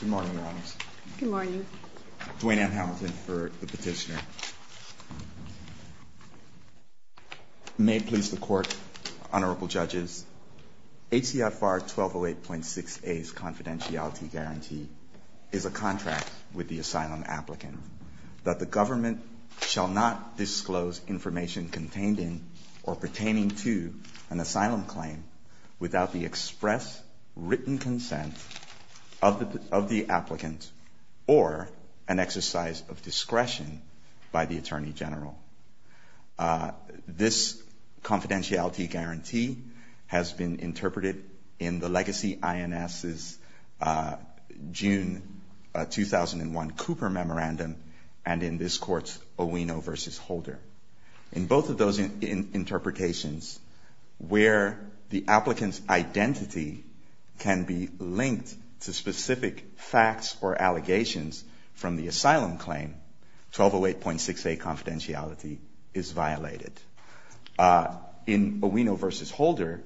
Good morning, Your Honors. Good morning. Duane M. Hamilton for the petitioner. May it please the Court, Honorable Judges, HCFR 1208.6a's confidentiality guarantee is a contract with the asylum applicant that the government shall not disclose information contained in or pertaining to an asylum claim without the express, written consent of the applicant or an exercise of discretion by the Attorney General. This confidentiality guarantee has been interpreted in the legacy INS's June 2001 Cooper Memorandum and in this Court's Owino v. Holder. In both of those interpretations, where the applicant's identity can be linked to specific facts or allegations from the asylum claim, 1208.6a confidentiality is violated. In Owino v. Holder,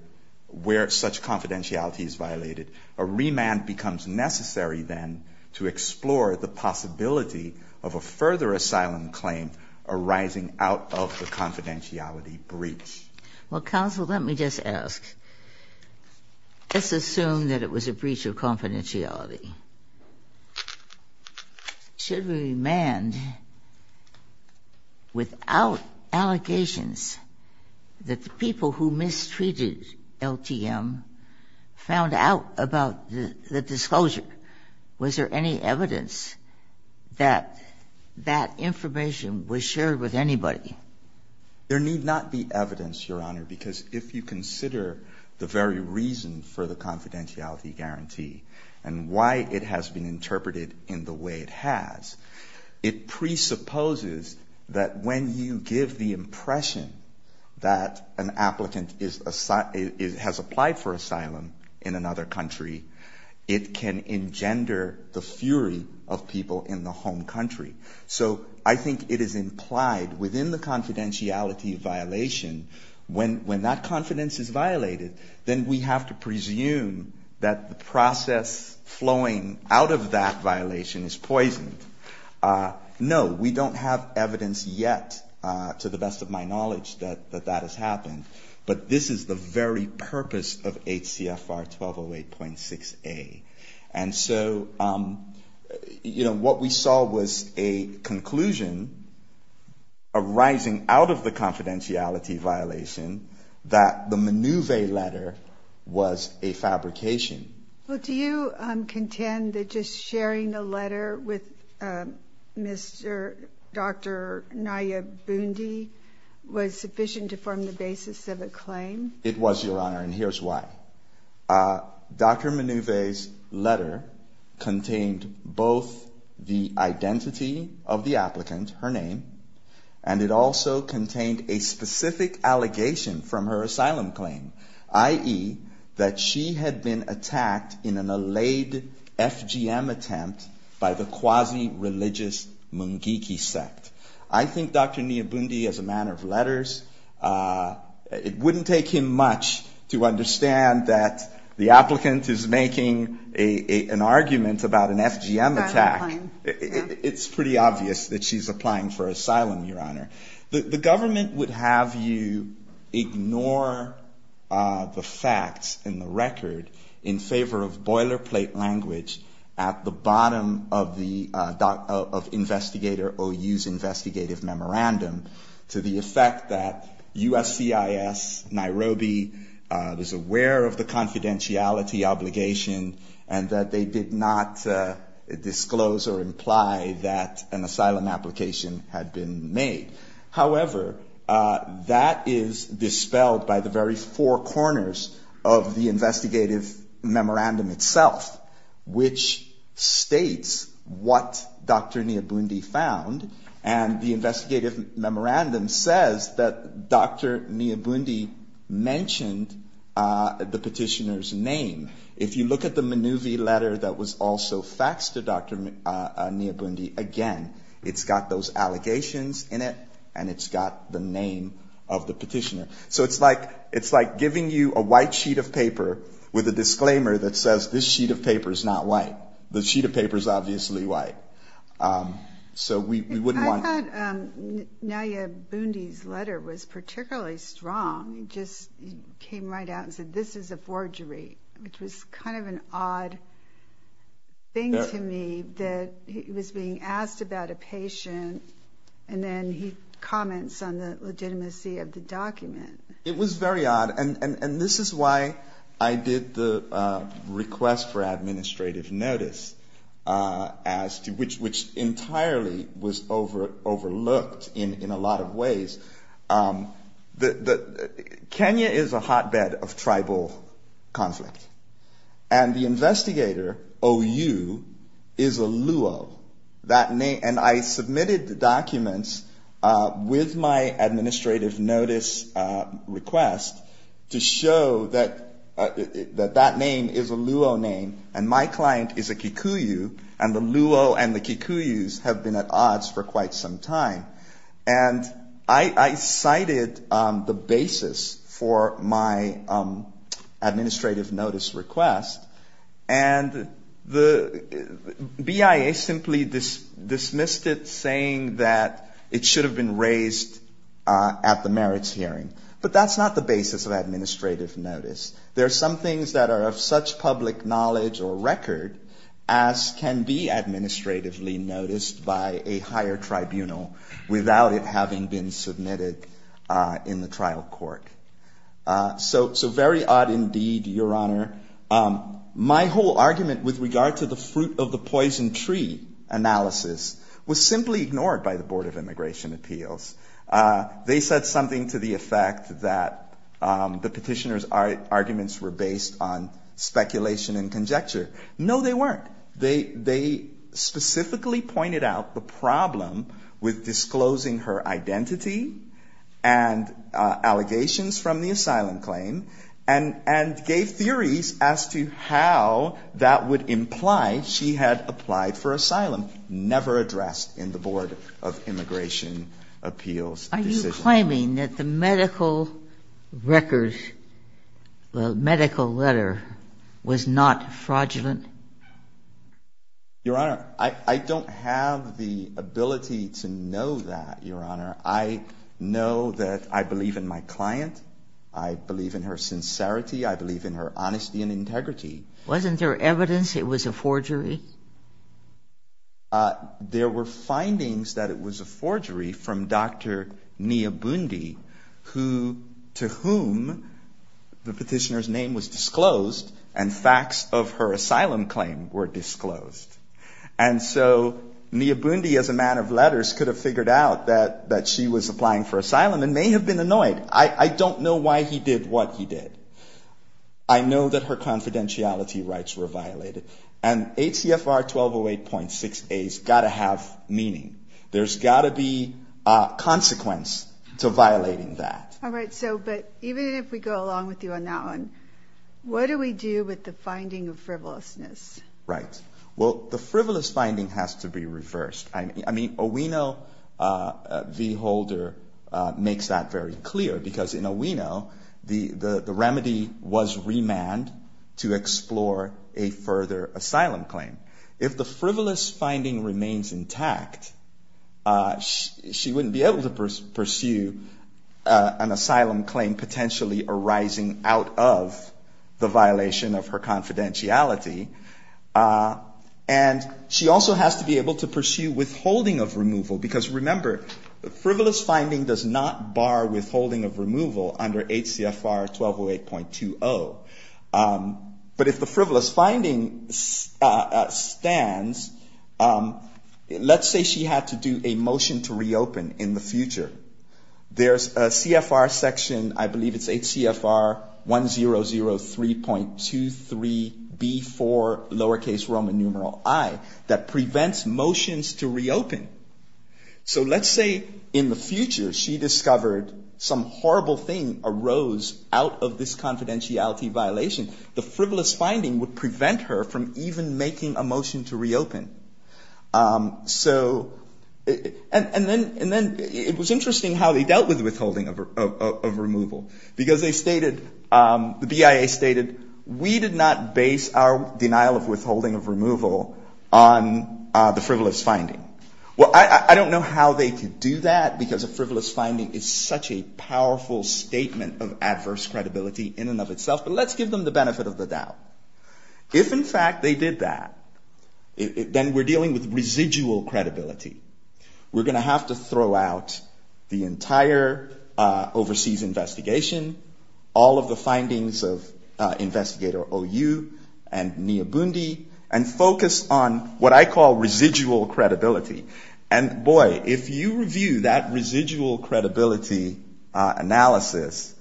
where such confidentiality is violated, a remand becomes necessary then to explore the possibility of a further asylum claim arising out of the confidentiality breach. Well, counsel, let me just ask. Let's assume that it was a breach of confidentiality. Should remand without allegations that the people who mistreated LTM found out about the disclosure, was there any evidence that that information was shared with anybody? There need not be evidence, Your Honor, because if you consider the very reason for the confidentiality guarantee and why it has been interpreted in the way it has, it presupposes that when you give the impression that an applicant has applied for asylum in another country, it can engender the fury of people in the home country. So I think it is implied within the confidentiality violation, when that confidence is violated, then we have to presume that the process flowing out of that violation is poisoned. No, we don't have evidence yet, to the best of my knowledge, that that has happened. But this is the very purpose of HCFR 1208.6a. And so, you know, what we saw was a conclusion arising out of the confidentiality violation, that the Minuve letter was a fabrication. Well, do you contend that just sharing the letter with Dr. Nayib Bundy was sufficient to form the basis of a claim? It was, Your Honor, and here's why. Dr. Minuve's letter contained both the identity of the applicant, her name, and it also contained a specific allegation from her asylum claim, i.e., that she had been attacked in an allayed FGM attempt by the quasi-religious Mungiki sect. I think Dr. Nayib Bundy, as a man of letters, it wouldn't take him much to understand that the applicant is making an argument about an FGM attack. It's pretty obvious that she's applying for asylum, Your Honor. The government would have you ignore the facts in the record in favor of boilerplate language at the bottom of Investigator OU's investigative memorandum to the effect that USCIS, Nairobi, was aware of the confidentiality obligation and that they did not disclose or imply that an asylum application had been made. However, that is dispelled by the very four corners of the investigative memorandum itself, which states what Dr. Nayib Bundy found, and the investigative memorandum says that Dr. Nayib Bundy mentioned the petitioner's name. If you look at the Mnuvi letter that was also faxed to Dr. Nayib Bundy, again, it's got those allegations in it and it's got the name of the petitioner. So it's like giving you a white sheet of paper with a disclaimer that says, this sheet of paper is not white. The sheet of paper is obviously white. I thought Nayib Bundy's letter was particularly strong. He just came right out and said, this is a forgery, which was kind of an odd thing to me that he was being asked about a patient and then he comments on the legitimacy of the document. It was very odd, and this is why I did the request for administrative notice as to which entirely was overlooked in a lot of ways. Kenya is a hotbed of tribal conflict, and the investigator, OU, is a Luo. And I submitted the documents with my administrative notice request to show that that name is a Luo name and my client is a Kikuyu, and the Luo and the Kikuyus have been at odds for quite some time. And I cited the basis for my administrative notice request, and the BIA simply dismissed it saying that it should have been raised at the administrative notice. There are some things that are of such public knowledge or record as can be administratively noticed by a higher tribunal without it having been submitted in the trial court. So very odd indeed, Your Honor. My whole argument with regard to the fruit of the poison tree analysis was simply ignored by the Board of Immigration Appeals. They said something to the effect that the petitioner's arguments were based on speculation and conjecture. No, they weren't. They specifically pointed out the problem with disclosing her identity and allegations from the asylum claim and gave theories as to how that would imply she had applied for asylum, never addressed in the Board of Immigration Appeals decision. Are you claiming that the medical record, the medical letter was not fraudulent? Your Honor, I don't have the ability to know that, Your Honor. I know that I believe in my client. I believe in her sincerity. I believe in her honesty and integrity. Wasn't there evidence it was a forgery? There were findings that it was a forgery from Dr. Niyabundi, to whom the petitioner's name was disclosed and facts of her asylum claim were disclosed. And so Niyabundi, as a man of letters, could have figured out that she was applying for asylum and may have been annoyed. I don't know why he did what he did. I know that her confidentiality rights were violated. And ACFR 1208.6a has got to have meaning. There's got to be a consequence to violating that. All right. So but even if we go along with you on that one, what do we do with the finding of frivolousness? Right. Well, the frivolous finding has to be reversed. I mean, Owino, the holder, makes that very clear because in Owino, the remedy was remand to explore a further asylum claim. If the frivolous finding remains intact, she wouldn't be able to pursue an asylum claim potentially arising out of the violation of her confidentiality. And she also has to be able to pursue withholding of removal because, remember, frivolous finding does not bar withholding of removal under ACFR 1208.20. But if the frivolous finding stands, let's say she had to do a motion to reopen in the future. There's a CFR section, I believe it's ACFR 1003.23b4, lowercase Roman numeral I, that prevents motions to reopen. So let's say in the future she discovered some horrible thing arose out of this confidentiality violation. The frivolous finding would prevent her from even making a motion to reopen. So and then it was interesting how they dealt with withholding of removal because they stated, the BIA stated, we did not base our denial of withholding of removal on the frivolous finding. Well, I don't know how they could do that because a frivolous finding is such a powerful statement of adverse credibility in and of itself, but let's give them the benefit of the doubt. If, in fact, they did that, then we're dealing with residual credibility. We're going to have to throw out the entire overseas investigation, all of the evidence on what I call residual credibility. And, boy, if you review that residual credibility analysis,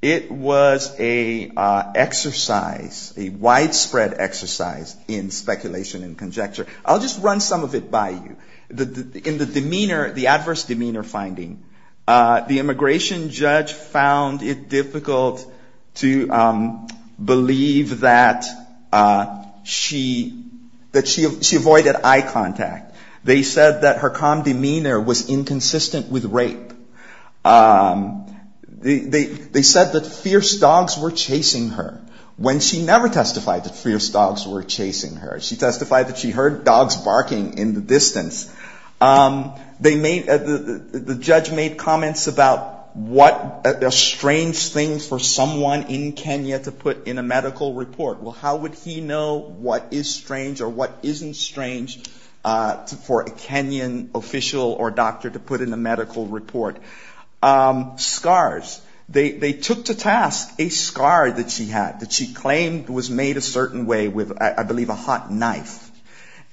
it was an exercise, a widespread exercise in speculation and conjecture. I'll just run some of it by you. In the demeanor, the adverse demeanor finding, the immigration judge found it that she avoided eye contact. They said that her calm demeanor was inconsistent with rape. They said that fierce dogs were chasing her when she never testified that fierce dogs were chasing her. She testified that she heard dogs barking in the distance. The judge made comments about what a strange thing for someone in Kenya to put in a medical report. Well, how would he know what is strange or what isn't strange for a Kenyan official or doctor to put in a medical report? Scars. They took to task a scar that she had that she claimed was made a certain way with, I believe, a hot knife.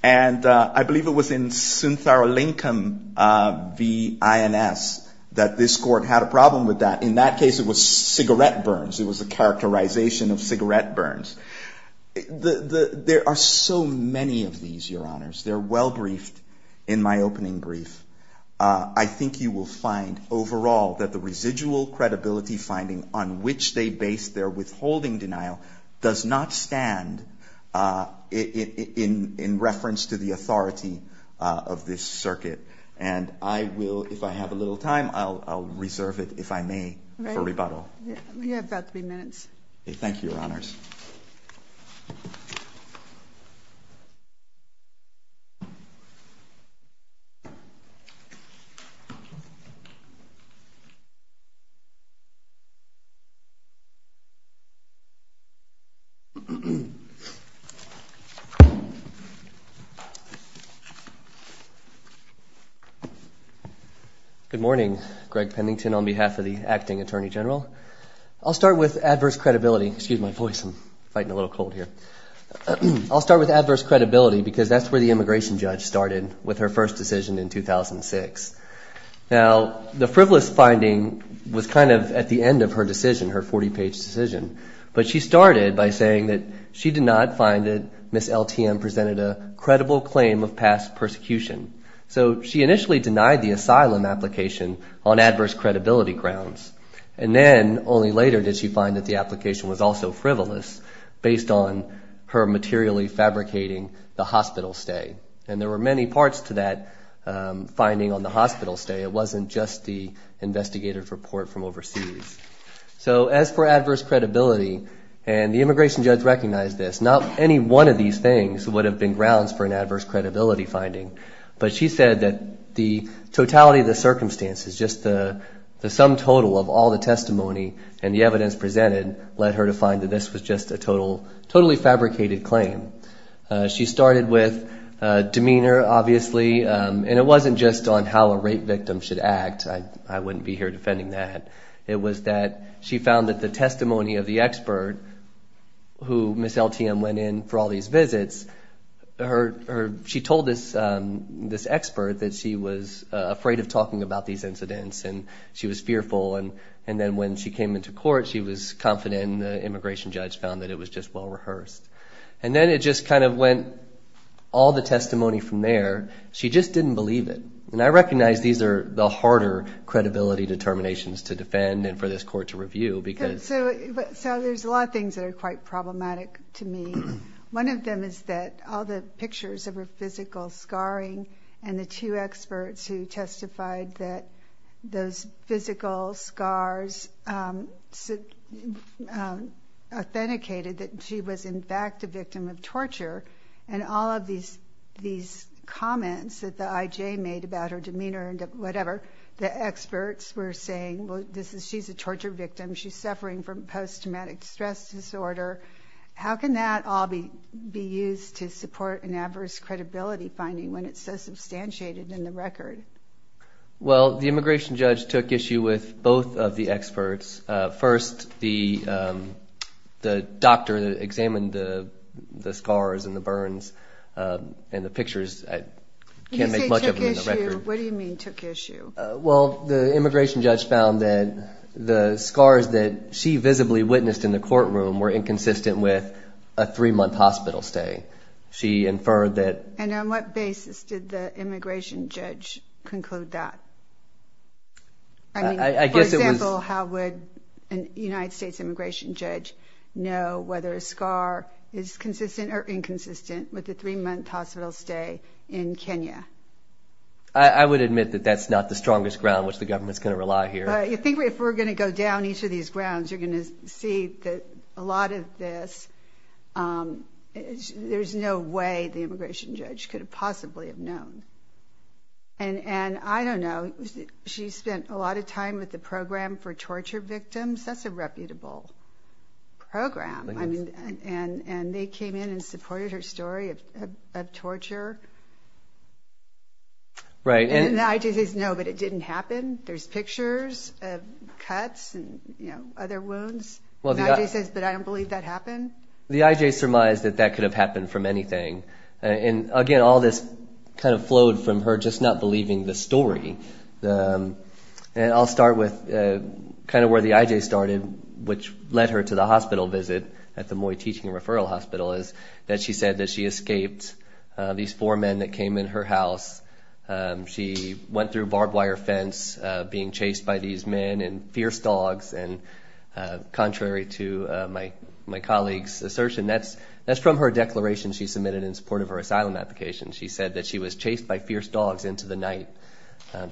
And I believe it was in Syntharolincum v. INS that this court had a problem with that. In that case, it was cigarette burns. It was a characterization of cigarette burns. There are so many of these, Your Honors. They're well briefed in my opening brief. I think you will find overall that the residual credibility finding on which they base their withholding denial does not stand in reference to the authority of this circuit. And I will, if I have a little time, I'll reserve it, if I may, for rebuttal. You have about three minutes. Thank you, Your Honors. Thank you. Good morning. Greg Pennington on behalf of the Acting Attorney General. I'll start with adverse credibility. Excuse my voice. I'm fighting a little cold here. I'll start with adverse credibility because that's where the immigration judge started with her first decision in 2006. Now, the frivolous finding was kind of at the end of her decision, her 40-page decision. But she started by saying that she did not find that Ms. LTM presented a credible claim of past persecution. So she initially denied the asylum application on adverse credibility grounds. And then only later did she find that the application was also frivolous based on her materially fabricating the hospital stay. And there were many parts to that finding on the hospital stay. It wasn't just the investigator's report from overseas. So as for adverse credibility, and the immigration judge recognized this, not any one of these things would have been grounds for an adverse credibility finding. But she said that the totality of the circumstances, just the sum total of all the testimony and the evidence presented led her to find that this was just a totally fabricated claim. She started with demeanor, obviously. And it wasn't just on how a rape victim should act. I wouldn't be here defending that. It was that she found that the testimony of the expert who Ms. LTM went in for all these visits, she told this expert that she was afraid of talking about these And then when she came into court, she was confident, and the immigration judge found that it was just well rehearsed. And then it just kind of went all the testimony from there. She just didn't believe it. And I recognize these are the harder credibility determinations to defend and for this court to review. So there's a lot of things that are quite problematic to me. One of them is that all the pictures of her physical scarring and the two experts who testified that those physical scars authenticated that she was, in fact, a victim of torture. And all of these comments that the IJ made about her demeanor and whatever, the experts were saying, well, she's a torture victim. She's suffering from post-traumatic stress disorder. How can that all be used to support an adverse credibility finding when it's so substantiated in the record? Well, the immigration judge took issue with both of the experts. First, the doctor that examined the scars and the burns and the pictures, I can't make much of them in the record. You say took issue. What do you mean took issue? Well, the immigration judge found that the scars that she visibly witnessed in the courtroom were inconsistent with a three-month hospital stay. She inferred that And on what basis did the immigration judge conclude that? I mean, for example, how would a United States immigration judge know whether a scar is consistent or inconsistent with a three-month hospital stay in Kenya? I would admit that that's not the strongest ground which the government's going to rely here. I think if we're going to go down each of these grounds, you're going to see that a lot of this, there's no way the immigration judge could have possibly have known. And I don't know. She spent a lot of time with the Program for Torture Victims. That's a reputable program. And they came in and supported her story of torture. Right. And the IJC says, no, but it didn't happen. There's pictures of cuts and, you know, other wounds. And the IJ says, but I don't believe that happened. The IJ surmised that that could have happened from anything. And, again, all this kind of flowed from her just not believing the story. And I'll start with kind of where the IJ started, which led her to the hospital visit at the Moy Teaching and Referral Hospital, is that she said that she escaped these four men that came in her house. She went through a barbed wire fence being chased by these men and fierce dogs. And contrary to my colleague's assertion, that's from her declaration she submitted in support of her asylum application. She said that she was chased by fierce dogs into the night.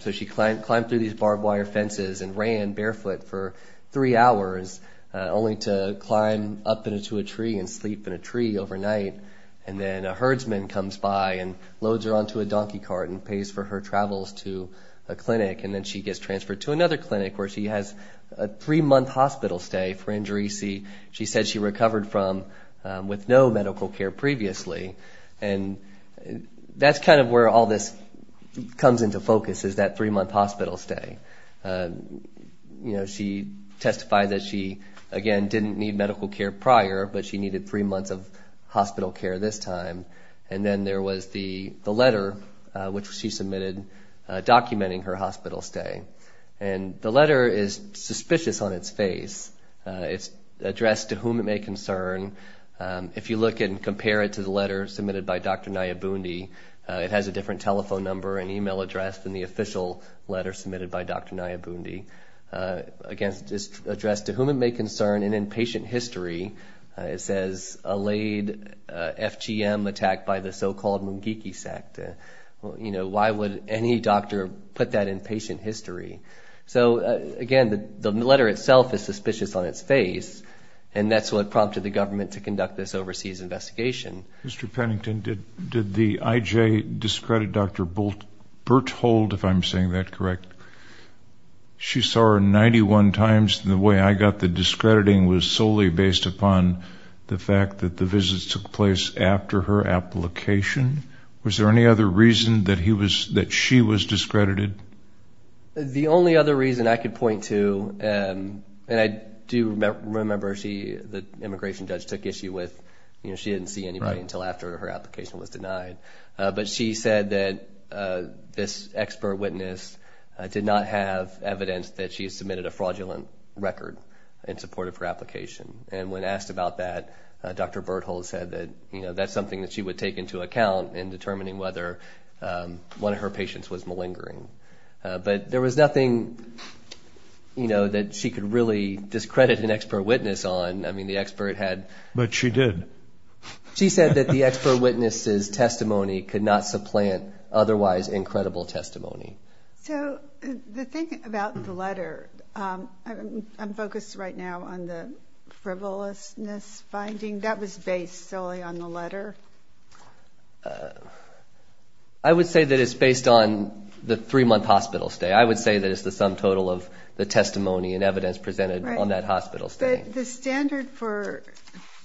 So she climbed through these barbed wire fences and ran barefoot for three hours, only to climb up into a tree and sleep in a tree overnight. And then a herdsman comes by and loads her onto a donkey cart and pays for her travels to a clinic. And then she gets transferred to another clinic where she has a three-month hospital stay for injury. She said she recovered from with no medical care previously. And that's kind of where all this comes into focus, is that three-month hospital stay. You know, she testified that she, again, didn't need medical care prior, but she needed three months of hospital care this time. And then there was the letter which she submitted documenting her hospital stay. And the letter is suspicious on its face. It's addressed to whom it may concern. If you look and compare it to the letter submitted by Dr. Nayabundi, it has a different telephone number and email address than the official letter submitted by Dr. Nayabundi. Again, it's addressed to whom it may concern and in patient history. It says, allayed FGM attack by the so-called Mungiki sect. You know, why would any doctor put that in patient history? So, again, the letter itself is suspicious on its face, and that's what prompted the government to conduct this overseas investigation. Mr. Pennington, did the IJ discredit Dr. Berthold, if I'm saying that correct? She saw her 91 times. The way I got the discrediting was solely based upon the fact that the visits took place after her application. Was there any other reason that she was discredited? The only other reason I could point to, and I do remember the immigration judge took issue with, you know, she didn't see anybody until after her application was denied. But she said that this expert witness did not have evidence that she had submitted a fraudulent record in support of her application. And when asked about that, Dr. Berthold said that, you know, that's something that she would take into account in determining whether one of her patients was malingering. But there was nothing, you know, that she could really discredit an expert witness on. I mean, the expert had. But she did. She said that the expert witness's testimony could not supplant otherwise incredible testimony. So the thing about the letter, I'm focused right now on the frivolousness finding. That was based solely on the letter? I would say that it's based on the three-month hospital stay. I would say that it's the sum total of the testimony and evidence presented on that hospital stay. The standard for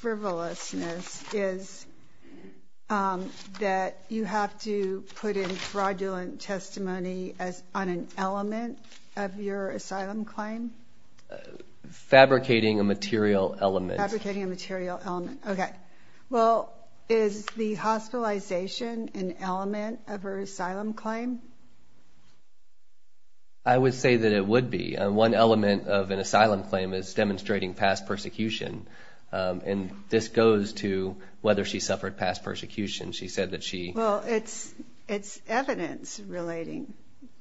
frivolousness is that you have to put in fraudulent testimony on an element of your asylum claim? Fabricating a material element. Fabricating a material element. Okay. Well, is the hospitalization an element of her asylum claim? I would say that it would be. One element of an asylum claim is demonstrating past persecution. And this goes to whether she suffered past persecution. She said that she. Well, it's evidence relating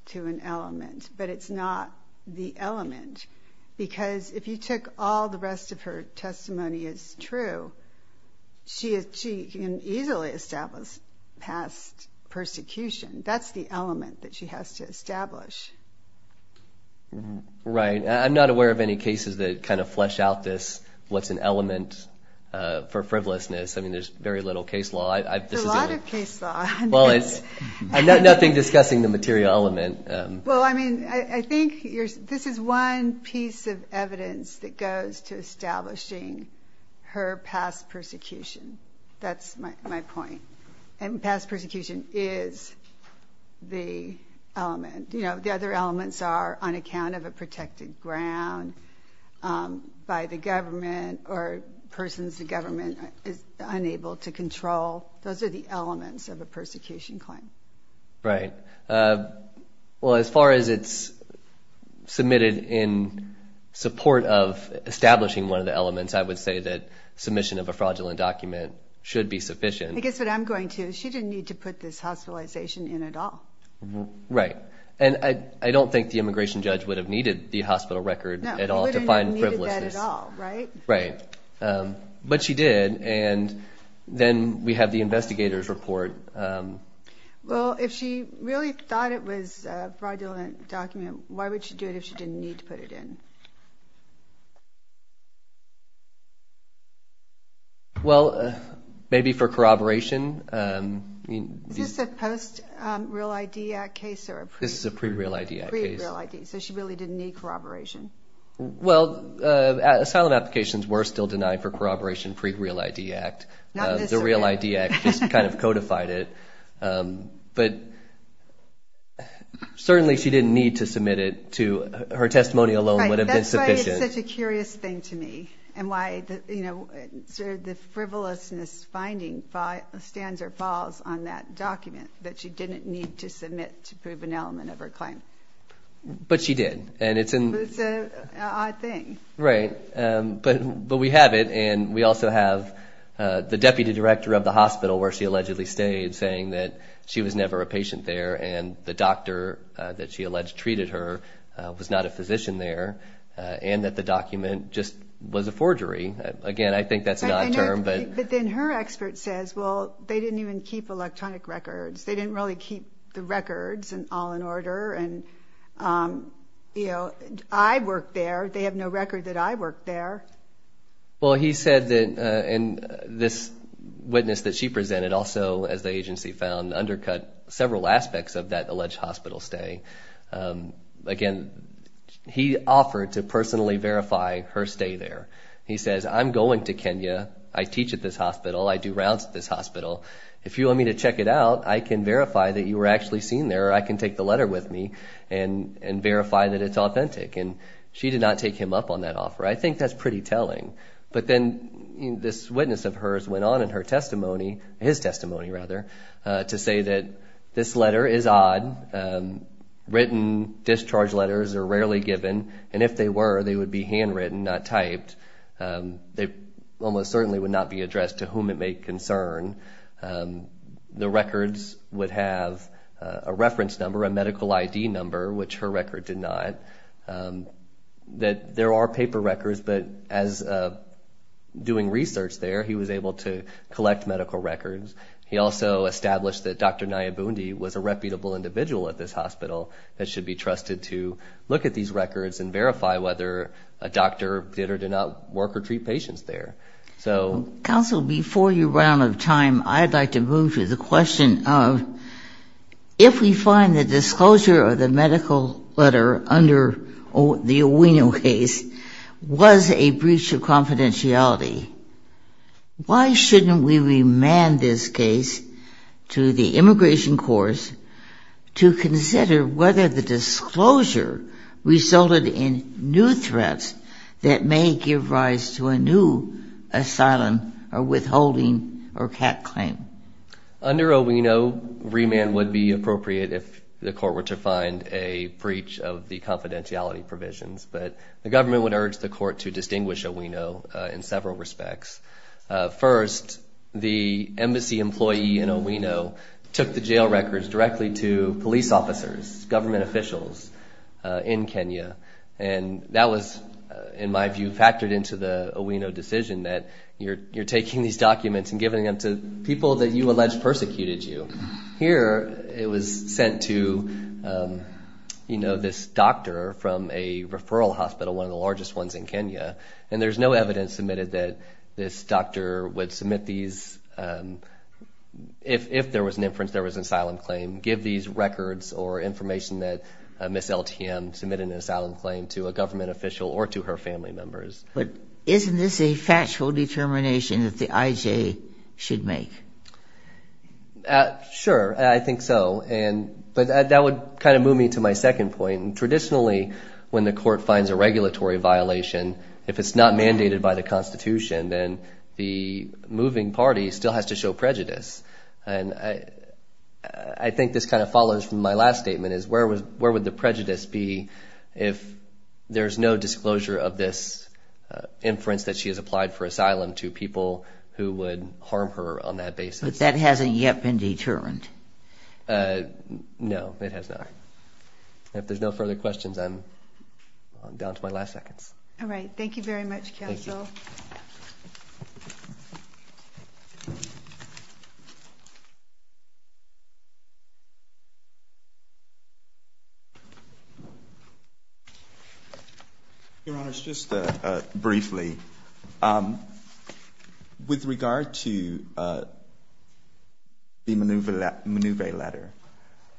to an element. But it's not the element. Because if you took all the rest of her testimony as true, she can easily establish past persecution. That's the element that she has to establish. Right. I'm not aware of any cases that kind of flesh out this, what's an element for frivolousness. I mean, there's very little case law. There's a lot of case law. I'm not discussing the material element. Well, I mean, I think this is one piece of evidence that goes to establishing her past persecution. That's my point. And past persecution is the element. You know, the other elements are on account of a protected ground by the government or persons the government is unable to control. Those are the elements of a persecution claim. Right. Well, as far as it's submitted in support of establishing one of the elements, I would say that submission of a fraudulent document should be sufficient. I guess what I'm going to is she didn't need to put this hospitalization in at all. Right. And I don't think the immigration judge would have needed the hospital record at all to find frivolousness. No, he wouldn't have needed that at all, right? Right. But she did. And then we have the investigator's report. Well, if she really thought it was a fraudulent document, why would she do it if she didn't need to put it in? Well, maybe for corroboration. Is this a post-Real ID Act case or a pre-Real ID? This is a pre-Real ID Act case. Pre-Real ID. So she really didn't need corroboration. Well, asylum applications were still denied for corroboration pre-Real ID Act. Not this one. The Real ID Act just kind of codified it. But certainly she didn't need to submit it to her testimony alone, Right. That's why it's such a curious thing to me and why, you know, sort of the frivolousness finding stands or falls on that document, that she didn't need to submit to prove an element of her claim. But she did. It's an odd thing. Right. But we have it, and we also have the deputy director of the hospital where she allegedly stayed saying that she was never a patient there and the doctor that she alleged treated her was not a physician there and that the document just was a forgery. Again, I think that's an odd term. But then her expert says, well, they didn't even keep electronic records. They didn't really keep the records all in order, and, you know, I worked there. They have no record that I worked there. Well, he said that this witness that she presented also, as the agency found, undercut several aspects of that alleged hospital stay. Again, he offered to personally verify her stay there. He says, I'm going to Kenya. I teach at this hospital. I do rounds at this hospital. If you want me to check it out, I can verify that you were actually seen there or I can take the letter with me and verify that it's authentic. And she did not take him up on that offer. I think that's pretty telling. But then this witness of hers went on in her testimony, his testimony rather, to say that this letter is odd. Written discharge letters are rarely given, and if they were, they would be handwritten, not typed. They almost certainly would not be addressed to whom it may concern. The records would have a reference number, a medical ID number, which her record did not. There are paper records, but as doing research there, he was able to collect medical records. He also established that Dr. Nayibundi was a reputable individual at this hospital that should be trusted to look at these records and verify whether a doctor did or did not work or treat patients there. Counsel, before your round of time, I'd like to move to the question of, if we find the disclosure of the medical letter under the Owino case was a breach of confidentiality, why shouldn't we remand this case to the immigration courts to consider whether the disclosure resulted in new threats that may give rise to a new asylum or withholding or CAC claim? Under Owino, remand would be appropriate if the court were to find a breach of the confidentiality provisions, but the government would urge the court to distinguish Owino in several respects. First, the embassy employee in Owino took the jail records directly to police officers, government officials in Kenya, and that was, in my view, factored into the Owino decision that you're taking these documents and giving them to people that you allege persecuted you. Here, it was sent to, you know, this doctor from a referral hospital, one of the largest ones in Kenya, and there's no evidence submitted that this doctor would submit these, if there was an inference there was an asylum claim, give these records or information that Ms. LTM submitted an asylum claim to a government official or to her family members. But isn't this a factual determination that the IJ should make? Sure, I think so, but that would kind of move me to my second point. Traditionally, when the court finds a regulatory violation, if it's not mandated by the Constitution, then the moving party still has to show prejudice. And I think this kind of follows from my last statement, is where would the prejudice be if there's no disclosure of this inference that she has applied for asylum to people who would harm her on that basis? But that hasn't yet been determined. No, it has not. If there's no further questions, I'm down to my last seconds. All right, thank you very much, counsel. Thank you. Your Honors, just briefly, with regard to the Mnuve letter,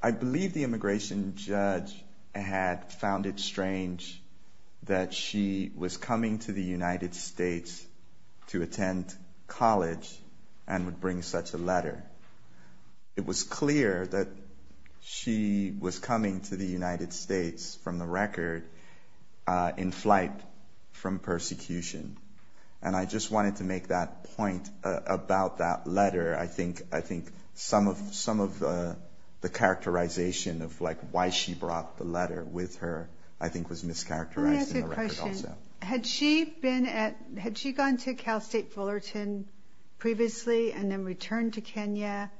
I believe the immigration judge had found it strange that she was coming to the United States to attend college and would bring such a letter. It was clear that she was coming to the United States from the record in flight from persecution. And I just wanted to make that point about that letter. I think some of the characterization of why she brought the letter with her, I think, was mischaracterized in the record also. Had she gone to Cal State Fullerton previously and then returned to Kenya?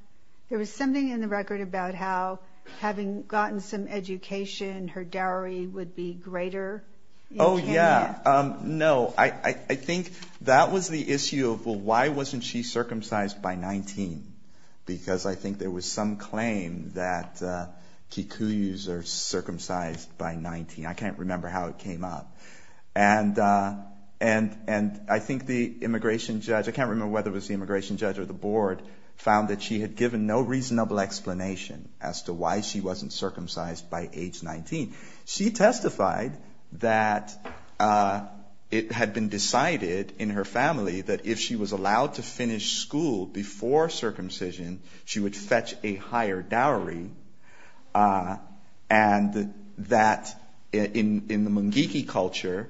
There was something in the record about how having gotten some education, her dowry would be greater in Kenya. Oh, yeah. No, I think that was the issue of, well, why wasn't she circumcised by 19? Because I think there was some claim that Kikuyu's are circumcised by 19. I can't remember how it came up. And I think the immigration judge, I can't remember whether it was the immigration judge or the board, found that she had given no reasonable explanation as to why she wasn't circumcised by age 19. She testified that it had been decided in her family that if she was allowed to finish school before circumcision, she would fetch a higher dowry, and that in the Mungiki culture,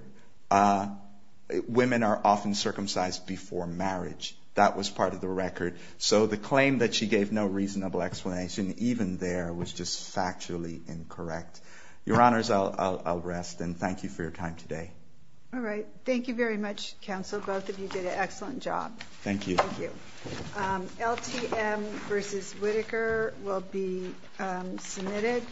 women are often circumcised before marriage. That was part of the record. So the claim that she gave no reasonable explanation even there was just factually incorrect. Your Honors, I'll rest, and thank you for your time today. All right. Thank you very much, Counsel. Both of you did an excellent job. Thank you. Thank you. LTM versus Whitaker will be submitted.